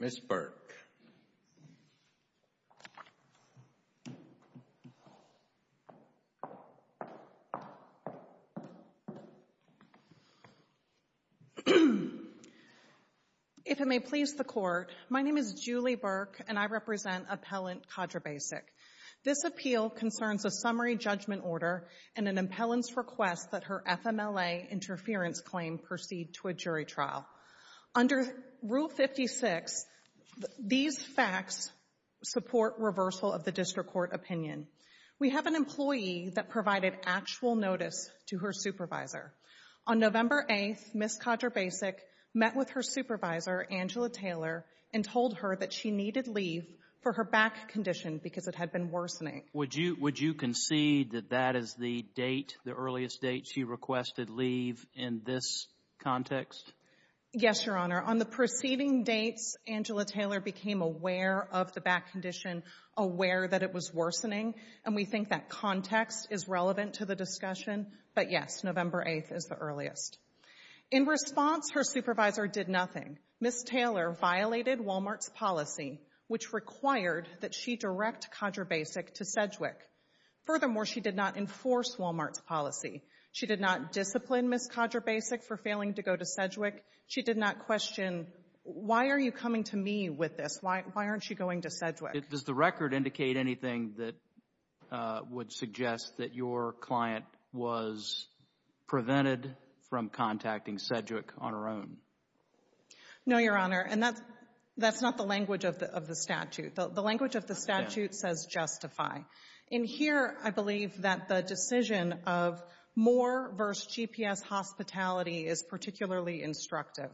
Ms. Burke. If it may please the Court, my name is Julie Burke, and I represent Appellant Kadrabasic. This appeal concerns a summary judgment order and an appellant's request that her FMLA interference claim proceed to a jury trial. Under Rule 56, these facts support reversal of the district court opinion. We have an employee that provided actual notice to her supervisor. On November 8th, Ms. Kadrabasic met with her supervisor, Angela Taylor, and told her that she needed leave for her back condition because it had been worsening. Would you concede that that is the date, the earliest date she requested leave in this case? Yes, Your Honor. On the preceding dates, Angela Taylor became aware of the back condition, aware that it was worsening, and we think that context is relevant to the discussion. But yes, November 8th is the earliest. In response, her supervisor did nothing. Ms. Taylor violated Walmart's policy, which required that she direct Kadrabasic to Sedgwick. Furthermore, she did not enforce Walmart's policy. She did not discipline Ms. Kadrabasic for failing to go to Sedgwick. She did not question, why are you coming to me with this? Why aren't you going to Sedgwick? Does the record indicate anything that would suggest that your client was prevented from contacting Sedgwick on her own? No, Your Honor, and that's not the language of the statute. The language of the statute says justify. In here, I believe that the decision of Moore v. GPS Hospitality is particularly instructive.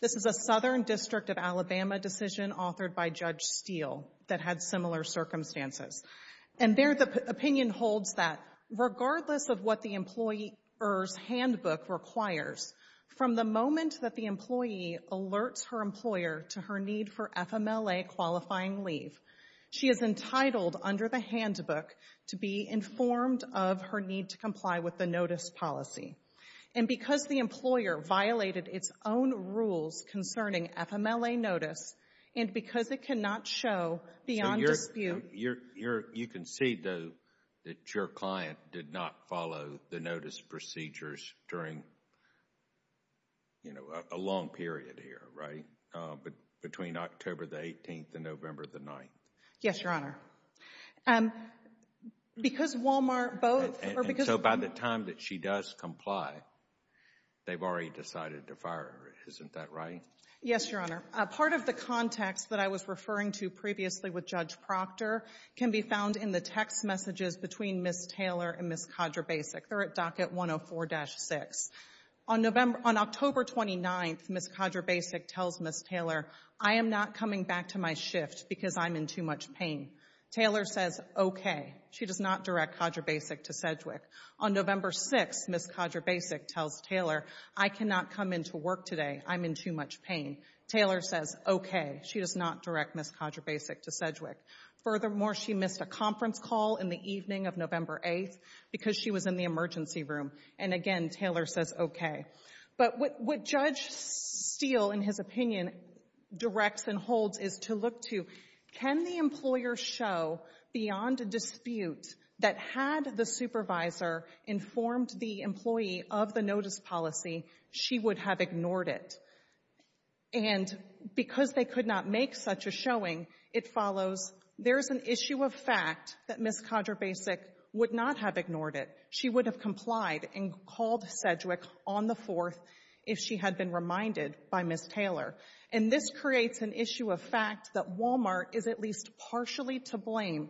This is a Southern District of Alabama decision authored by Judge Steele that had similar circumstances. And there, the opinion holds that regardless of what the employer's handbook requires, from the moment that the employee alerts her employer to her need for FMLA qualifying leave, she is entitled under the handbook to be informed of her need to comply with the notice policy. And because the employer violated its own rules concerning FMLA notice, and because it cannot show beyond dispute. You can see, though, that your client did not follow the notice procedures during, you know, a long period here, right? Between October the 18th and November the 9th. Yes, Your Honor. Because Walmart both, or because- And so by the time that she does comply, they've already decided to fire her. Isn't that right? Yes, Your Honor. Part of the context that I was referring to previously with Judge Proctor can be found in the text messages between Ms. Taylor and Ms. Kadrabasic. They're at docket 104-6. On October 29th, Ms. Kadrabasic tells Ms. Taylor, I am not coming back to my shift because I'm in too much pain. Taylor says, OK. She does not direct Kadrabasic to Sedgwick. On November 6th, Ms. Kadrabasic tells Taylor, I cannot come into work today. I'm in too much pain. Taylor says, OK. She does not direct Ms. Kadrabasic to Sedgwick. Furthermore, she missed a conference call in the evening of November 8th because she was in the emergency room. And again, Taylor says, OK. But what Judge Steele, in his opinion, directs and holds is to look to, can the employer show beyond a dispute that had the supervisor informed the employee of the notice policy, she would have ignored it? And because they could not make such a showing, it follows, there's an issue of fact that Ms. Kadrabasic would not have ignored it. She would have complied and called Sedgwick on the 4th if she had been reminded by Ms. Taylor. And this creates an issue of fact that Walmart is at least partially to blame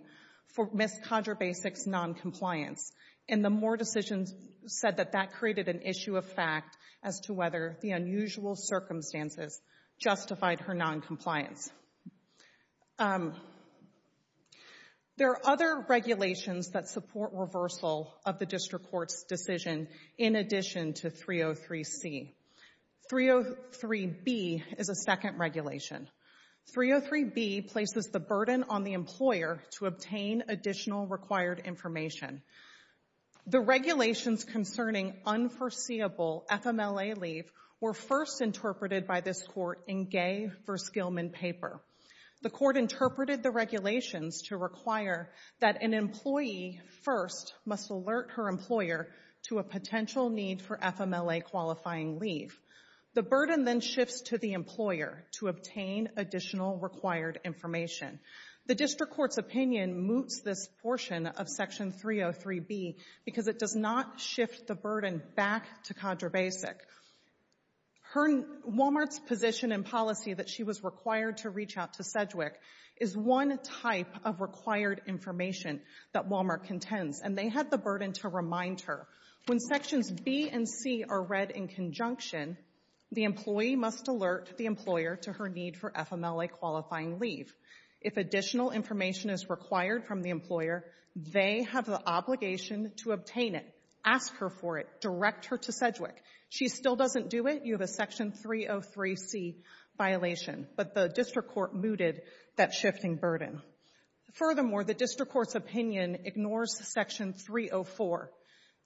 for Ms. Kadrabasic's noncompliance. And the Moore decision said that that created an issue of fact as to whether the unusual circumstances justified her noncompliance. There are other regulations that support reversal of the district court's decision in addition to 303C. 303B is a second regulation. 303B places the burden on the employer to obtain additional required information. The regulations concerning unforeseeable FMLA leave were first interpreted by this court in Gay v. Gilman paper. The court interpreted the regulations to require that an employee first must alert her employer to a potential need for FMLA-qualifying leave. The burden then shifts to the employer to obtain additional required information. The district court's opinion moots this portion of Section 303B because it does not shift the burden back to Kadrabasic. Walmart's position and policy that she was required to reach out to Sedgwick is one type of required information that Walmart contends, and they had the burden to remind her. When Sections B and C are read in conjunction, the employee must alert the employer to her need for FMLA-qualifying leave. If additional information is required from the employer, they have the obligation to obtain it, ask her for it, direct her to Sedgwick. She still doesn't do it. You have a Section 303C violation, but the district court mooted that shifting burden. Furthermore, the district court's opinion ignores Section 304.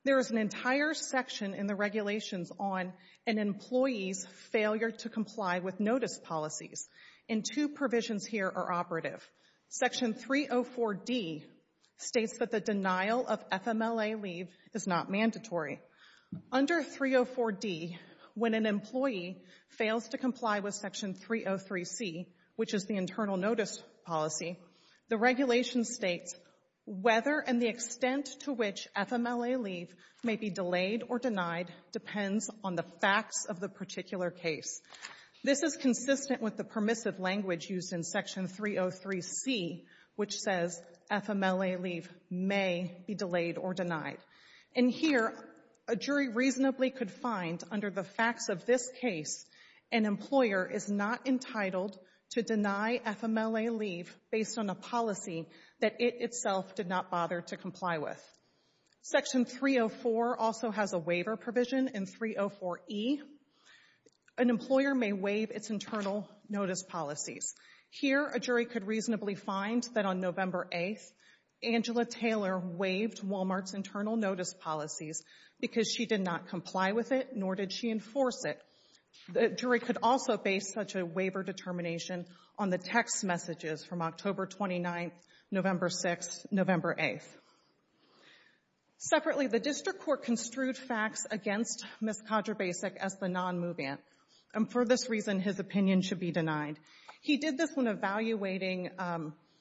There is an entire section in the regulations on an employee's failure to comply with notice policies, and two provisions here are operative. Section 304D states that the denial of FMLA leave is not mandatory. Under 304D, when an employee fails to comply with Section 303C, which is the internal notice policy, the regulation states whether and the extent to which FMLA leave may be delayed or denied depends on the facts of the particular case. This is consistent with the permissive language used in Section 303C, which says FMLA leave may be delayed or denied. And here, a jury reasonably could find under the facts of this case, an employer is not entitled to deny FMLA leave based on a policy that it itself did not bother to comply with. Section 304 also has a waiver provision in 304E. An employer may waive its internal notice policies. Here, a jury could reasonably find that on November 8th, Angela Taylor waived Walmart's internal notice policies because she did not comply with it, nor did she enforce it. The jury could also base such a waiver determination on the text messages from October 29th, November 6th, November 8th. Separately, the district court construed facts against Ms. Kodrabasic as the non-moveant, and for this reason, his opinion should be denied. He did this when evaluating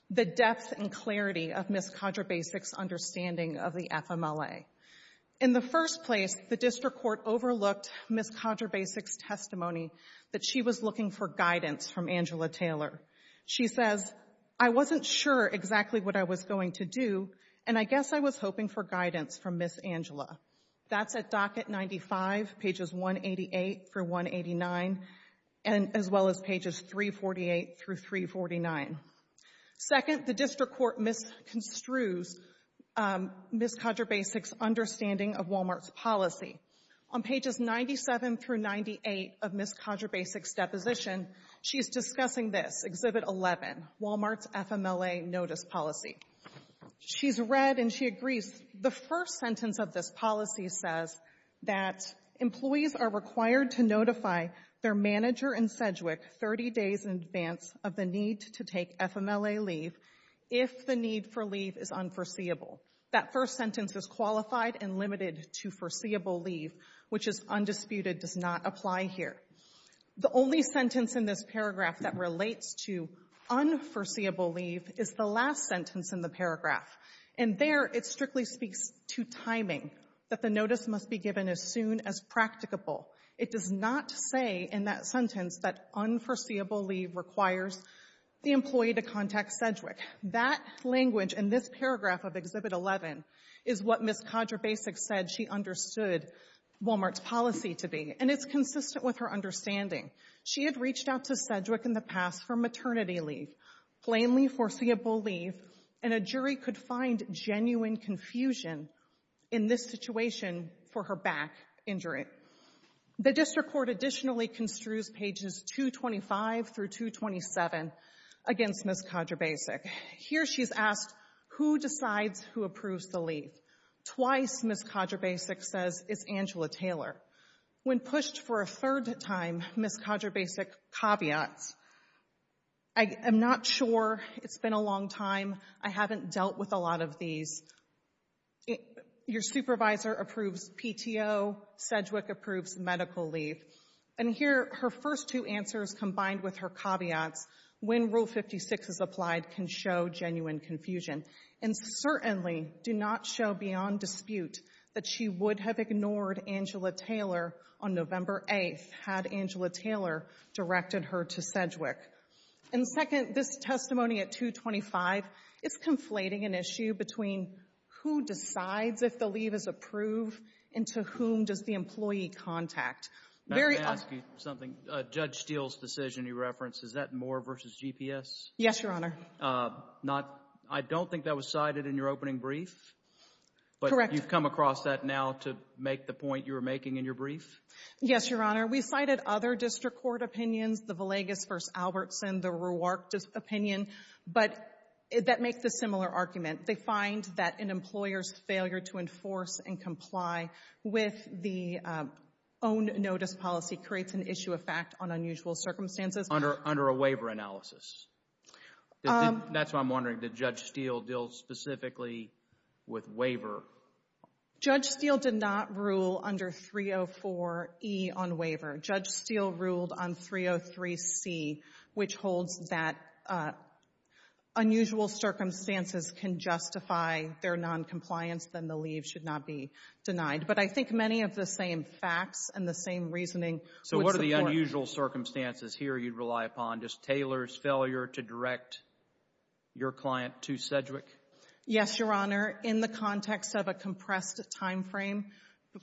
the depth and clarity of Ms. Kodrabasic's understanding of the FMLA. In the first place, the district court overlooked Ms. Kodrabasic's testimony that she was looking for guidance from Angela Taylor. She says, I wasn't sure exactly what I was going to do, and I guess I was hoping for guidance from Ms. Angela. That's at docket 95, pages 188 through 189, as well as pages 348 through 349. Second, the district court misconstrues Ms. Kodrabasic's understanding of Walmart's policy. On pages 97 through 98 of Ms. Kodrabasic's deposition, she's discussing this, Exhibit 11, Walmart's FMLA notice policy. She's read and she agrees. The first sentence of this policy says that employees are required to notify their manager in Sedgwick 30 days in advance of the need to take FMLA leave if the need for leave is unforeseeable. That first sentence is qualified and limited to foreseeable leave, which is undisputed, does not apply here. The only sentence in this paragraph that relates to unforeseeable leave is the last sentence in the paragraph. And there, it strictly speaks to timing, that the notice must be given as soon as practicable. It does not say in that sentence that unforeseeable leave requires the employee to contact Sedgwick. That language in this paragraph of Exhibit 11 is what Ms. Kodrabasic said she understood Walmart's policy to be. And it's consistent with her understanding. She had reached out to Sedgwick in the past for maternity leave, plainly foreseeable leave, and a jury could find genuine confusion in this situation for her back injury. The district court additionally construes pages 225 through 227 against Ms. Kodrabasic. Here, she's asked, who decides who approves the leave? Twice, Ms. Kodrabasic says, it's Angela Taylor. When pushed for a third time, Ms. Kodrabasic caveats, I'm not sure. It's been a long time. I haven't dealt with a lot of these. Your supervisor approves PTO. Sedgwick approves medical leave. And here, her first two answers combined with her caveats, when Rule 56 is applied, can show genuine confusion and certainly do not show beyond dispute that she would have ignored Angela Taylor on November 8th had Angela Taylor directed her to Sedgwick. And second, this testimony at 225 is conflating an issue between who decides if the leave is approved and to whom does the employee contact. Very — Let me ask you something. Judge Steele's decision you referenced, is that Moore v. GPS? Yes, Your Honor. Not — I don't think that was cited in your opening brief. Correct. But you've come across that now to make the point you were making in your brief? Yes, Your Honor. We cited other district court opinions, the Villegas v. Albertson, the Ruark opinion, but that makes a similar argument. They find that an employer's failure to enforce and comply with the own notice policy creates an issue of fact on unusual circumstances. Under a waiver analysis. That's what I'm wondering. Did Judge Steele deal specifically with waiver? Judge Steele did not rule under 304E on waiver. Judge Steele ruled on 303C, which holds that unusual circumstances can justify their noncompliance, then the leave should not be denied. But I think many of the same facts and the same reasoning would support — you'd rely upon just Taylor's failure to direct your client to Sedgwick? Yes, Your Honor. In the context of a compressed time frame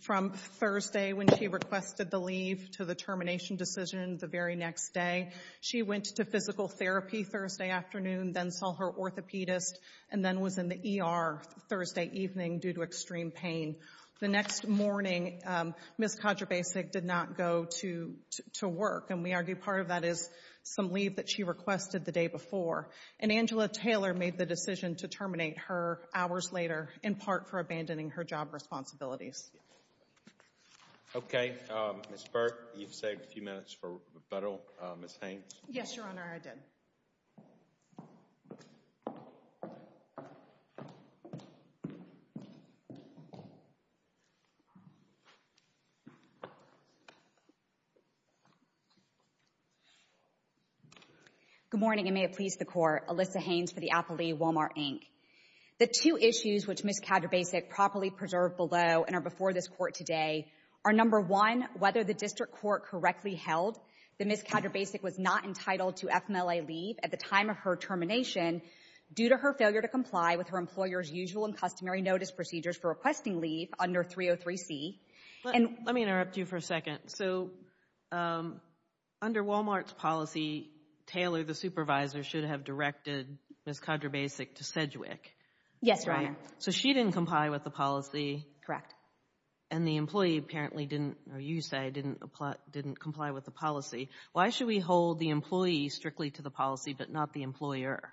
from Thursday when she requested the leave to the termination decision the very next day, she went to physical therapy Thursday afternoon, then saw her orthopedist, and then was in the ER Thursday evening due to extreme pain. The next morning, Ms. Kodrabasic did not go to work, and we argue part of that is some leave that she requested the day before. And Angela Taylor made the decision to terminate her hours later, in part for abandoning her job responsibilities. Okay. Ms. Burke, you've saved a few minutes for rebuttal. Ms. Haynes? Yes, Your Honor, I did. Okay. Good morning, and may it please the Court. Alyssa Haynes for the Appleby Walmart, Inc. The two issues which Ms. Kodrabasic properly preserved below and are before this Court today are, number one, whether the district court correctly held that Ms. Kodrabasic was not entitled to FMLA leave at the time of her termination due to her failure to comply with her employer's usual and customary notice procedures for requesting leave under 303C. Let me interrupt you for a second. So under Walmart's policy, Taylor, the supervisor, should have directed Ms. Kodrabasic to Sedgwick. Yes, Your Honor. So she didn't comply with the policy. Correct. And the employee apparently didn't, or you say, didn't comply with the policy. Why should we hold the employee strictly to the policy but not the employer?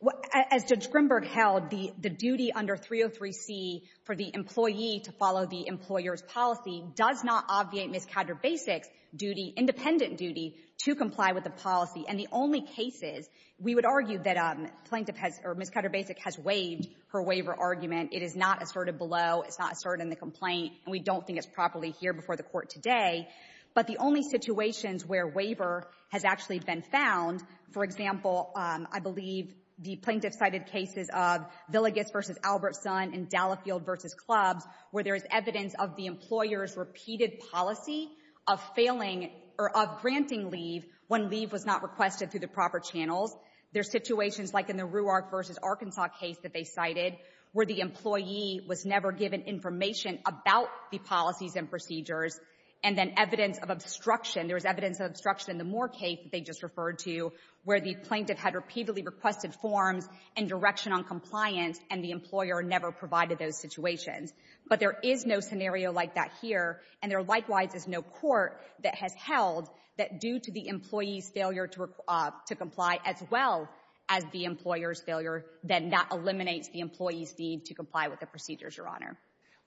Well, as Judge Grimberg held, the duty under 303C for the employee to follow the employer's policy does not obviate Ms. Kodrabasic's duty, independent duty, to comply with the policy. And the only cases we would argue that plaintiff has, or Ms. Kodrabasic has waived her waiver argument, it is not asserted below, it's not asserted in the complaint, and we don't think it's properly here before the Court today. But the only situations where waiver has actually been found, for example, I believe the plaintiff cited cases of Villegas v. Albertson and Dallefield v. Clubs, where there is evidence of the employer's repeated policy of failing, or of granting leave, when leave was not requested through the proper channels. There's situations like in the Ruark v. Arkansas case that they cited, where the employee was never given information about the policies and procedures. And then evidence of obstruction, there was evidence of obstruction in the Moore case they just referred to, where the plaintiff had repeatedly requested forms and direction on compliance, and the employer never provided those situations. But there is no scenario like that here, and there likewise is no Court that has held that due to the employee's failure to comply as well as the employer's failure, then that eliminates the employee's need to comply with the procedures, Your Honor.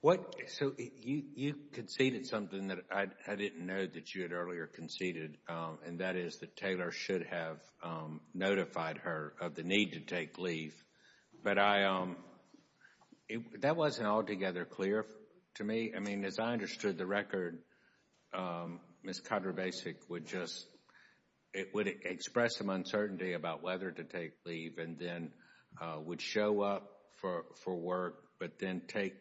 Kennedy. So you conceded something that I didn't know that you had earlier conceded, and that is that Taylor should have notified her of the need to take leave. But I, that wasn't altogether clear to me. I mean, as I understood the record, Ms. Cotter-Basic would just, it would express some uncertainty about whether to take leave, and then would show up for work, but then take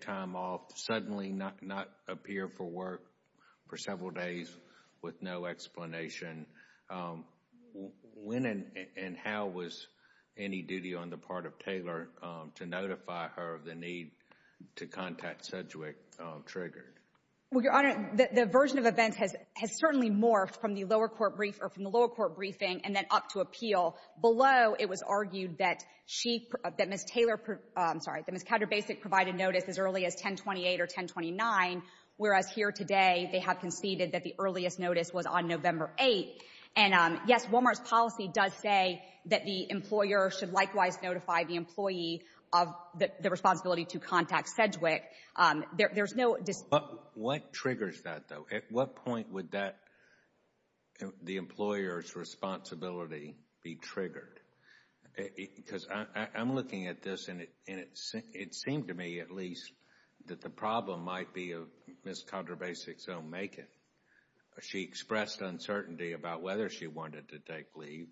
time off, suddenly not appear for work for several days with no explanation. When and how was any duty on the part of Taylor to notify her of the need to contact Sedgwick triggered? Well, Your Honor, the version of events has certainly morphed from the lower court brief or from the lower court briefing and then up to appeal. Below, it was argued that she, that Ms. Taylor, I'm sorry, that Ms. Cotter-Basic provided notice as early as 1028 or 1029, whereas here today, they have conceded that the earliest notice was on November 8th. And yes, Walmart's policy does say that the employer should likewise notify the employee of the responsibility to contact Sedgwick. There's no dis- But what triggers that, though? At what point would that, the employer's responsibility be triggered? Because I'm looking at this and it seemed to me at least that the problem might be of Ms. Cotter-Basic's own making. She expressed uncertainty about whether she wanted to take leave.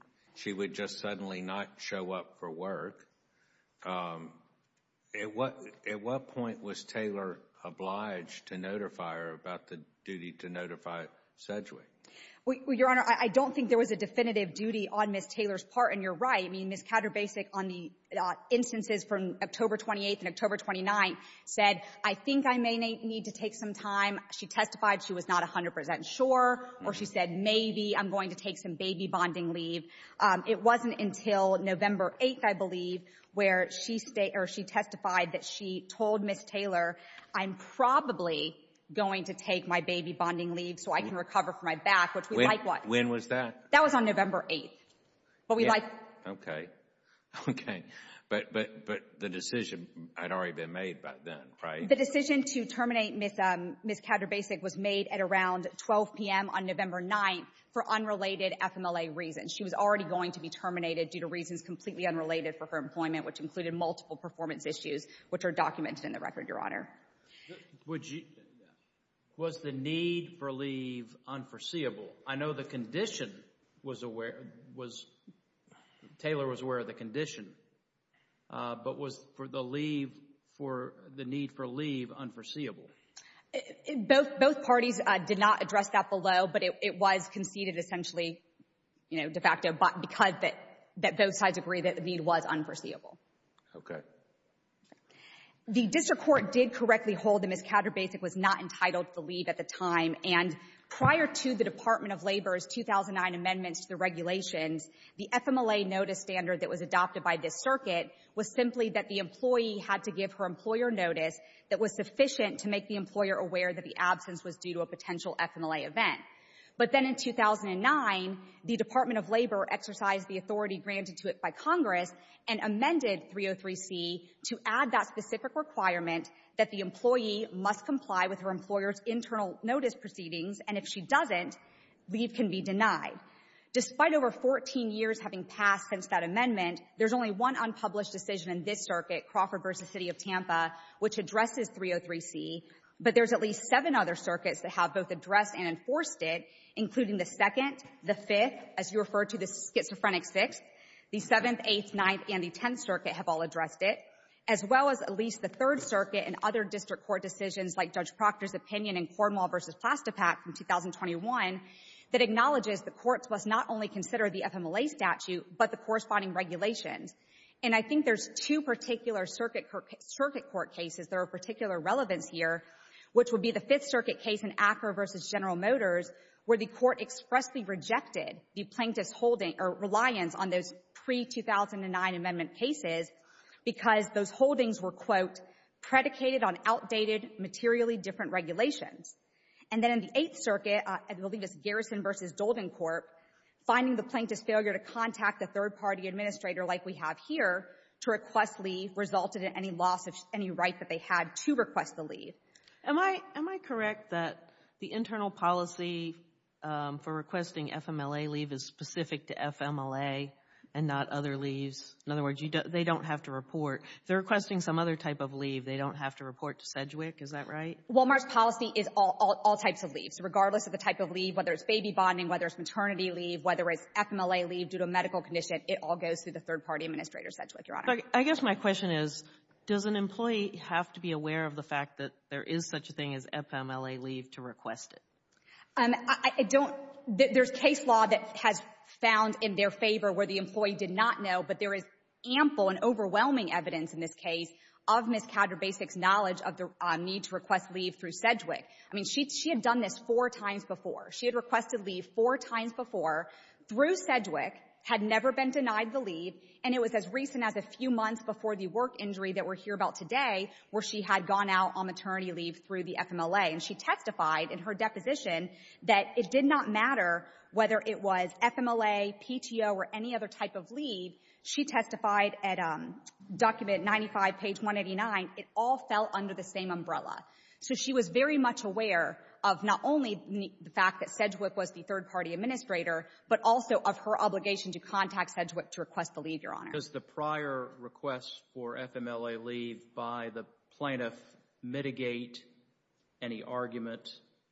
At what point was Taylor obliged to notify her about the duty to notify Sedgwick? Well, Your Honor, I don't think there was a definitive duty on Ms. Taylor's part, and you're right. I mean, Ms. Cotter-Basic on the instances from October 28th and October 29th said, I think I may need to take some time. She testified she was not 100 percent sure, or she said maybe I'm going to take some baby bonding leave. It wasn't until November 8th, I believe, where she testified that she told Ms. Taylor, I'm probably going to take my baby bonding leave so I can recover from my back, which we likewise- When was that? That was on November 8th, but we likewise- Okay, okay. But the decision had already been made by then, right? The decision to terminate Ms. Cotter-Basic was made at around 12 p.m. on November 9th for unrelated FMLA reasons. She was already going to be terminated due to reasons completely unrelated for her employment, which included multiple performance issues, which are documented in the record, Your Honor. Was the need for leave unforeseeable? I know the condition was aware, was, Taylor was aware of the condition, but was for the leave, for the need for leave unforeseeable? Both parties did not address that below, but it was conceded essentially, you know, de facto, because both sides agreed that the need was unforeseeable. Okay. The district court did correctly hold that Ms. Cotter-Basic was not entitled to leave at the time, and prior to the Department of Labor's 2009 amendments to the regulations, the FMLA notice standard that was adopted by this circuit was simply that the employee had to give her employer notice that was sufficient to make the employer aware that the absence was due to a potential FMLA event. But then in 2009, the Department of Labor exercised the authority granted to it by Congress and amended 303C to add that specific requirement that the employee must comply with her employer's internal notice proceedings, and if she doesn't, leave can be denied. Despite over 14 years having passed since that amendment, there's only one unpublished decision in this circuit, Crawford v. City of Tampa, which addresses 303C, but there's at least seven other circuits that have both addressed and enforced it, including the Second, the Fifth, as you referred to, the Schizophrenic Sixth, the Seventh, Eighth, Ninth, and the Tenth Circuit have all addressed it, as well as at least the Third Circuit and other district court decisions like Judge Proctor's opinion in Cornwall v. Plastipak from 2021 that acknowledges the courts must not only consider the FMLA statute but the corresponding regulations. And I think there's two particular circuit court cases that are of particular relevance here, which would be the Fifth Circuit case in Acker v. General Motors, where the Court expressly rejected the plaintiff's holding or reliance on those pre-2009 amendment cases because those holdings were, quote, predicated on outdated, materially different regulations. And then in the Eighth Circuit, I believe it's Garrison v. Doldencorp, finding the plaintiff's failure to contact the third-party administrator like we have here to request leave resulted in any loss of any right that they had to request the leave. Am I correct that the internal policy for requesting FMLA leave is specific to FMLA and not other leaves? In other words, they don't have to report. If they're requesting some other type of leave, they don't have to report to Sedgwick. Is that right? Walmart's policy is all types of leave. So regardless of the type of leave, whether it's baby bonding, whether it's maternity leave, whether it's FMLA leave due to a medical condition, it all goes through the I guess my question is, does an employee have to be aware of the fact that there is such a thing as FMLA leave to request it? I don't — there's case law that has found in their favor where the employee did not know, but there is ample and overwhelming evidence in this case of Ms. Caterbasic's knowledge of the need to request leave through Sedgwick. I mean, she had done this four times before. She had requested leave four times before through Sedgwick, had never been denied the leave, and it was as recent as a few months before the work injury that we're here about today where she had gone out on maternity leave through the FMLA. And she testified in her deposition that it did not matter whether it was FMLA, PTO, or any other type of leave. She testified at document 95, page 189. It all fell under the same umbrella. So she was very much aware of not only the fact that Sedgwick was the third-party but also of her obligation to contact Sedgwick to request the leave, Your Honor. Does the prior request for FMLA leave by the plaintiff mitigate any argument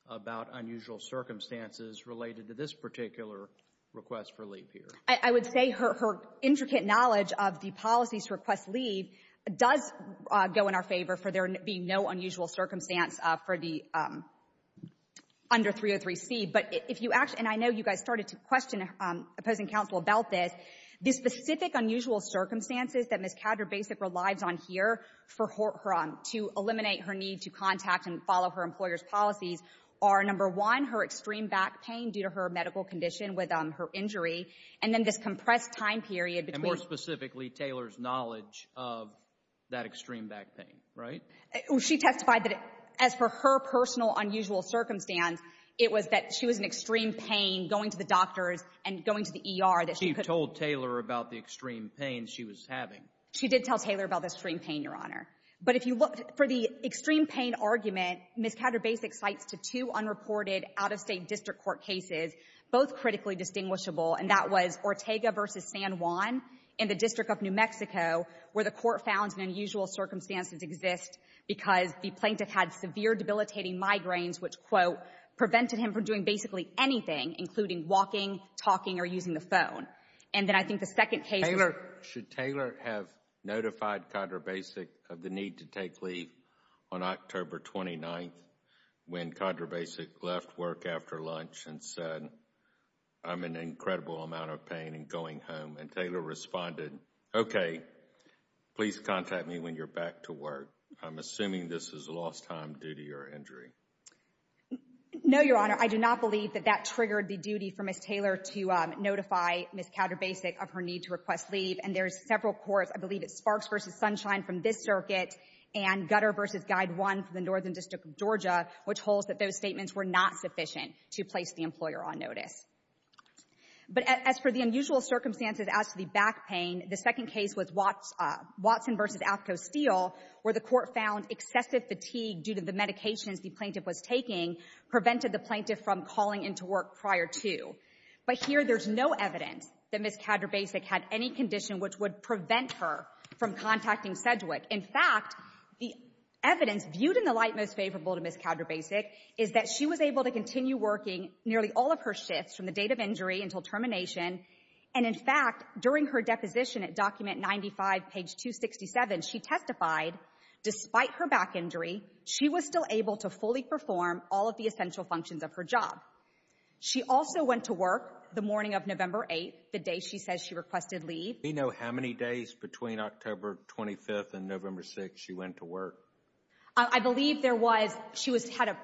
about unusual circumstances related to this particular request for leave here? I would say her intricate knowledge of the policies to request leave does go in our favor for there being no unusual circumstance for the — under 303C. But if you — and I know you guys started to question opposing counsel about this. The specific unusual circumstances that Ms. Cadder-Basic relies on here to eliminate her need to contact and follow her employer's policies are, number one, her extreme back pain due to her medical condition with her injury, and then this compressed time period between — And more specifically, Taylor's knowledge of that extreme back pain, right? She testified that as per her personal unusual circumstance, it was that she was in extreme pain going to the doctors and going to the ER that she could — She told Taylor about the extreme pain she was having. She did tell Taylor about the extreme pain, Your Honor. But if you look — for the extreme pain argument, Ms. Cadder-Basic cites to two unreported out-of-state district court cases, both critically distinguishable, and that was Ortega v. San Juan in the District of New Mexico, where the court found an unusual circumstance to exist because the plaintiff had severe debilitating migraines, which, quote, prevented him from doing basically anything, including walking, talking, or using the phone. And then I think the second case — Taylor — should Taylor have notified Cadder-Basic of the need to take leave on October 29th, when Cadder-Basic left work after lunch and said, I'm in an incredible amount of pain and going home? And Taylor responded, okay, please contact me when you're back to work. I'm assuming this is lost time, duty, or injury. No, Your Honor. I do not believe that that triggered the duty for Ms. Taylor to notify Ms. Cadder-Basic of her need to request leave. And there's several courts — I believe it's Sparks v. Sunshine from this circuit and Gutter v. Guide One from the Northern District of Georgia, which holds that those statements were not sufficient to place the employer on notice. But as for the unusual circumstances as to the back pain, the second case was Watson v. Athco Steel, where the court found excessive fatigue due to the medications the plaintiff was taking prevented the plaintiff from calling into work prior to. But here there's no evidence that Ms. Cadder-Basic had any condition which would prevent her from contacting Sedgwick. In fact, the evidence viewed in the light most favorable to Ms. Cadder-Basic is that she was able to continue working nearly all of her shifts from the date of injury until termination. And in fact, during her deposition at Document 95, page 267, she testified, despite her back injury, she was still able to fully perform all of the essential functions of her job. She also went to work the morning of November 8th, the day she says she requested leave. Do we know how many days between October 25th and November 6th she went to work? I believe there was, she had a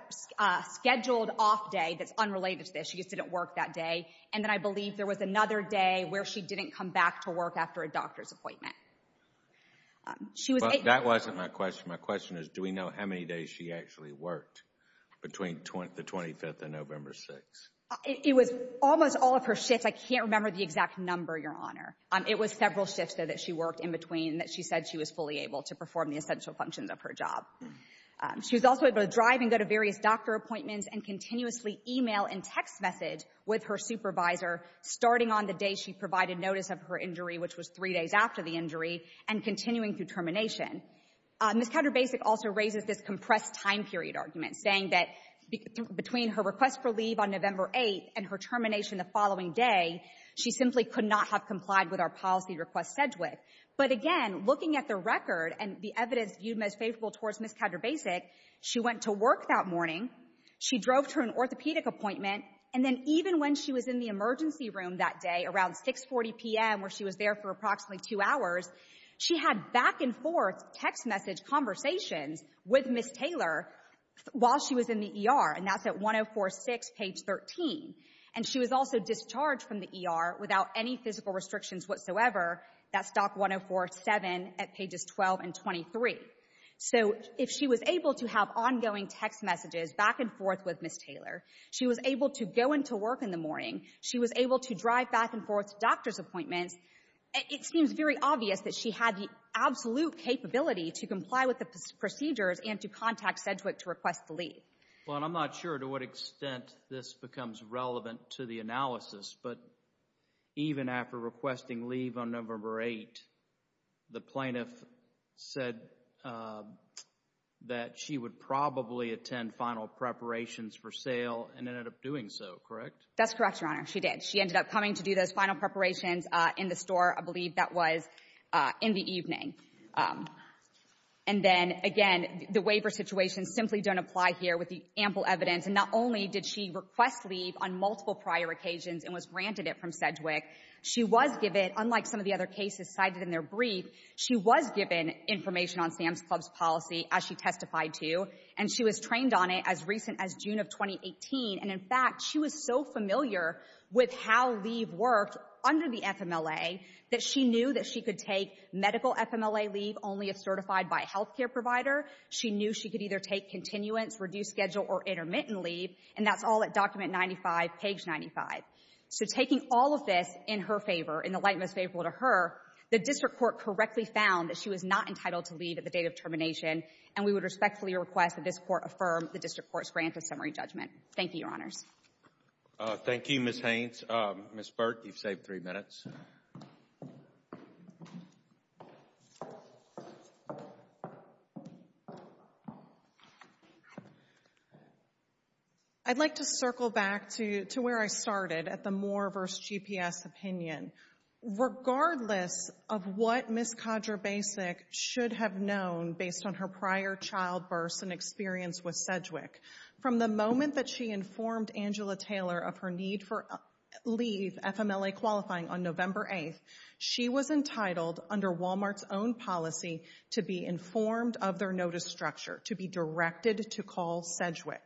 scheduled off day that's unrelated to this. She just didn't work that day. And then I believe there was another day where she didn't come back to work after a doctor's appointment. That wasn't my question. My question is, do we know how many days she actually worked between the 25th and November 6th? It was almost all of her shifts. I can't remember the exact number, Your Honor. It was several shifts, though, that she worked in her job. She was also able to drive and go to various doctor appointments and continuously email and text message with her supervisor, starting on the day she provided notice of her injury, which was three days after the injury, and continuing through termination. Ms. Counterbasic also raises this compressed time period argument, saying that between her request for leave on November 8th and her termination the following day, she simply could not have complied with our policy request said with. But again, looking at the record and the evidence viewed most favorable towards Ms. Counterbasic, she went to work that morning. She drove to an orthopedic appointment. And then even when she was in the emergency room that day, around 6.40 p.m., where she was there for approximately two hours, she had back and forth text message conversations with Ms. Taylor while she was in the ER. And that's at 1046 page 13. And she was also discharged from the ER without any physical restrictions whatsoever. That's doc 1047 at pages 12 and 23. So if she was able to have ongoing text messages back and forth with Ms. Taylor, she was able to go into work in the morning, she was able to drive back and forth to doctor's appointments, it seems very obvious that she had the absolute capability to comply with the procedures and to contact Sedgwick to request the leave. Well, and I'm not sure to what extent this becomes relevant to the analysis, but even after requesting leave on November 8, the plaintiff said that she would probably attend final preparations for sale and ended up doing so, correct? That's correct, Your Honor. She did. She ended up coming to do those final preparations in the store, I believe that was in the evening. And then again, the waiver situations simply don't apply here with the ample evidence. And not only did she request leave on multiple prior occasions and was granted it from Sedgwick, she was given, unlike some of the other cases cited in their brief, she was given information on Sam's Club's policy as she testified to, and she was trained on it as recent as June of 2018. And in fact, she was so familiar with how leave worked under the FMLA that she knew that she could take medical FMLA leave only if certified by a health care provider. She knew she could either take continuance, reduced schedule, or intermittent leave, and that's all at document 95, page 95. So taking all of this in her favor, in the light most favorable to her, the district court correctly found that she was not entitled to leave at the date of termination, and we would respectfully request that this court affirm the district court's grant of summary judgment. Thank you, Your Honors. Thank you, Ms. Haines. Ms. Burke, you've saved three minutes. I'd like to circle back to where I started at the Moore v. GPS opinion. Regardless of what Ms. Kodrer-Basic should have known based on her prior childbirths and experience with Sedgwick, from the moment that she informed Angela Taylor of her need for leave, FMLA qualifying, on November 8th, she was entitled, under Walmart's own policy, to be informed of their notice structure, to be directed to call Sedgwick.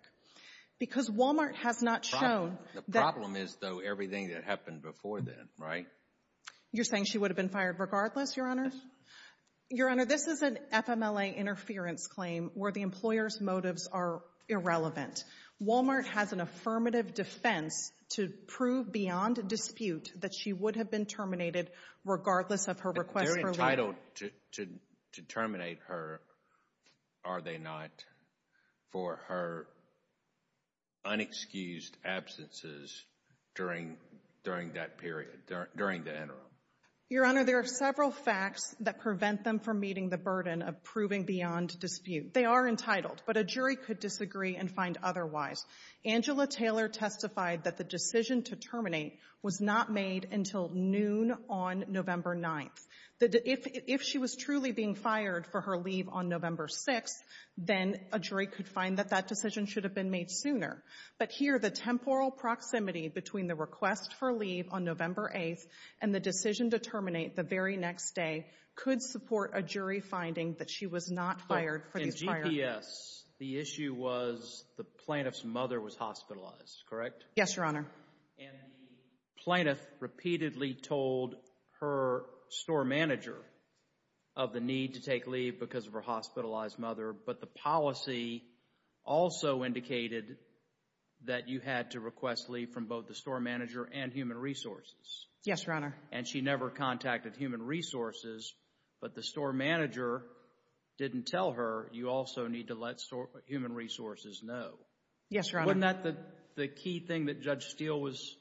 Because Walmart has not shown... The problem is, though, everything that happened before then, right? You're saying she would have been fired regardless, Your Honors? Your Honor, this is an FMLA interference claim where the employer's motives are irrelevant. Walmart has an affirmative defense to prove beyond dispute that she would have been terminated regardless of her request for leave. They're entitled to terminate her, are they not, for her unexcused absences during that period, during the interim? Your Honor, there are several facts that prevent them from meeting the burden of proving beyond dispute. They are entitled, but a jury could disagree and find otherwise. Angela Taylor testified that the decision to terminate was not made until noon on November 9th. If she was truly being fired for her leave on November 6th, then a jury could find that that decision should have been made sooner. But here, the temporal proximity between the request for leave on November 8th and the decision to terminate the very next day could support a jury finding that she was not fired for these... In GPS, the issue was the plaintiff's mother was hospitalized, correct? Yes, Your Honor. And the plaintiff repeatedly told her store manager of the need to take leave because of her hospitalized mother. But the policy also indicated that you had to request leave from both the store manager and human resources. Yes, Your Honor. And she never contacted human resources, but the store manager didn't tell her you also need to let human resources know. Yes, Your Honor. Wasn't that the key thing that Judge Steele was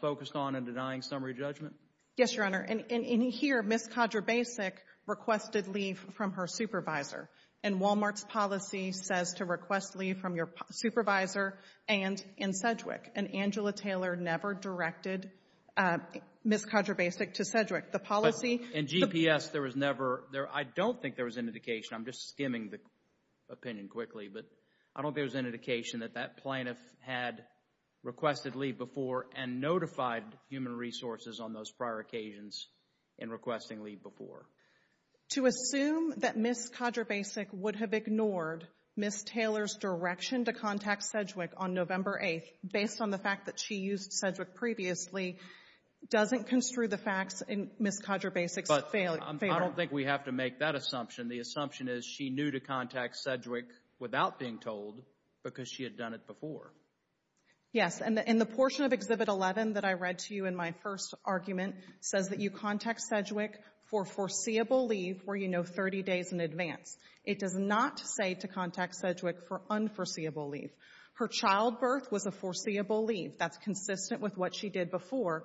focused on in denying summary judgment? Yes, Your Honor. And here, Ms. Khadra Basic requested leave from her supervisor. And Walmart's policy says to request leave from your supervisor and in Sedgwick. And Angela Taylor never directed Ms. Khadra Basic to Sedgwick. The policy... In GPS, there was never... I don't think there was an indication. I'm just skimming the opinion quickly. But I don't think there was an indication that that plaintiff had requested leave before and notified human resources on those prior occasions in requesting leave before. To assume that Ms. Khadra Basic would have ignored Ms. Taylor's direction to contact Sedgwick on November 8th based on the fact that she used Sedgwick previously doesn't construe the facts in Ms. Khadra Basic's failure. But I don't think we have to make that assumption. The assumption is she knew to contact Sedgwick without being told because she had done it before. Yes. And the portion of Exhibit 11 that I read to you in my first argument says that you should contact Sedgwick for foreseeable leave where you know 30 days in advance. It does not say to contact Sedgwick for unforeseeable leave. Her childbirth was a foreseeable leave. That's consistent with what she did before.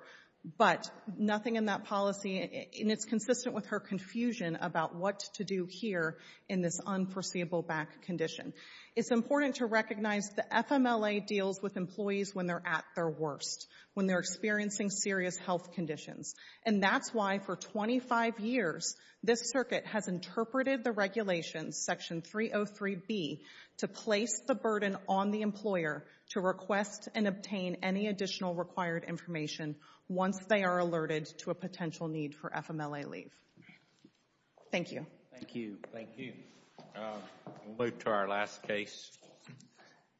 But nothing in that policy... And it's consistent with her confusion about what to do here in this unforeseeable back condition. It's important to recognize the FMLA deals with employees when they're at their worst, when they're experiencing serious health conditions. And that's why for 25 years this circuit has interpreted the regulations, Section 303B, to place the burden on the employer to request and obtain any additional required information once they are alerted to a potential need for FMLA leave. Thank you. Thank you. Thank you. We'll move to our last case.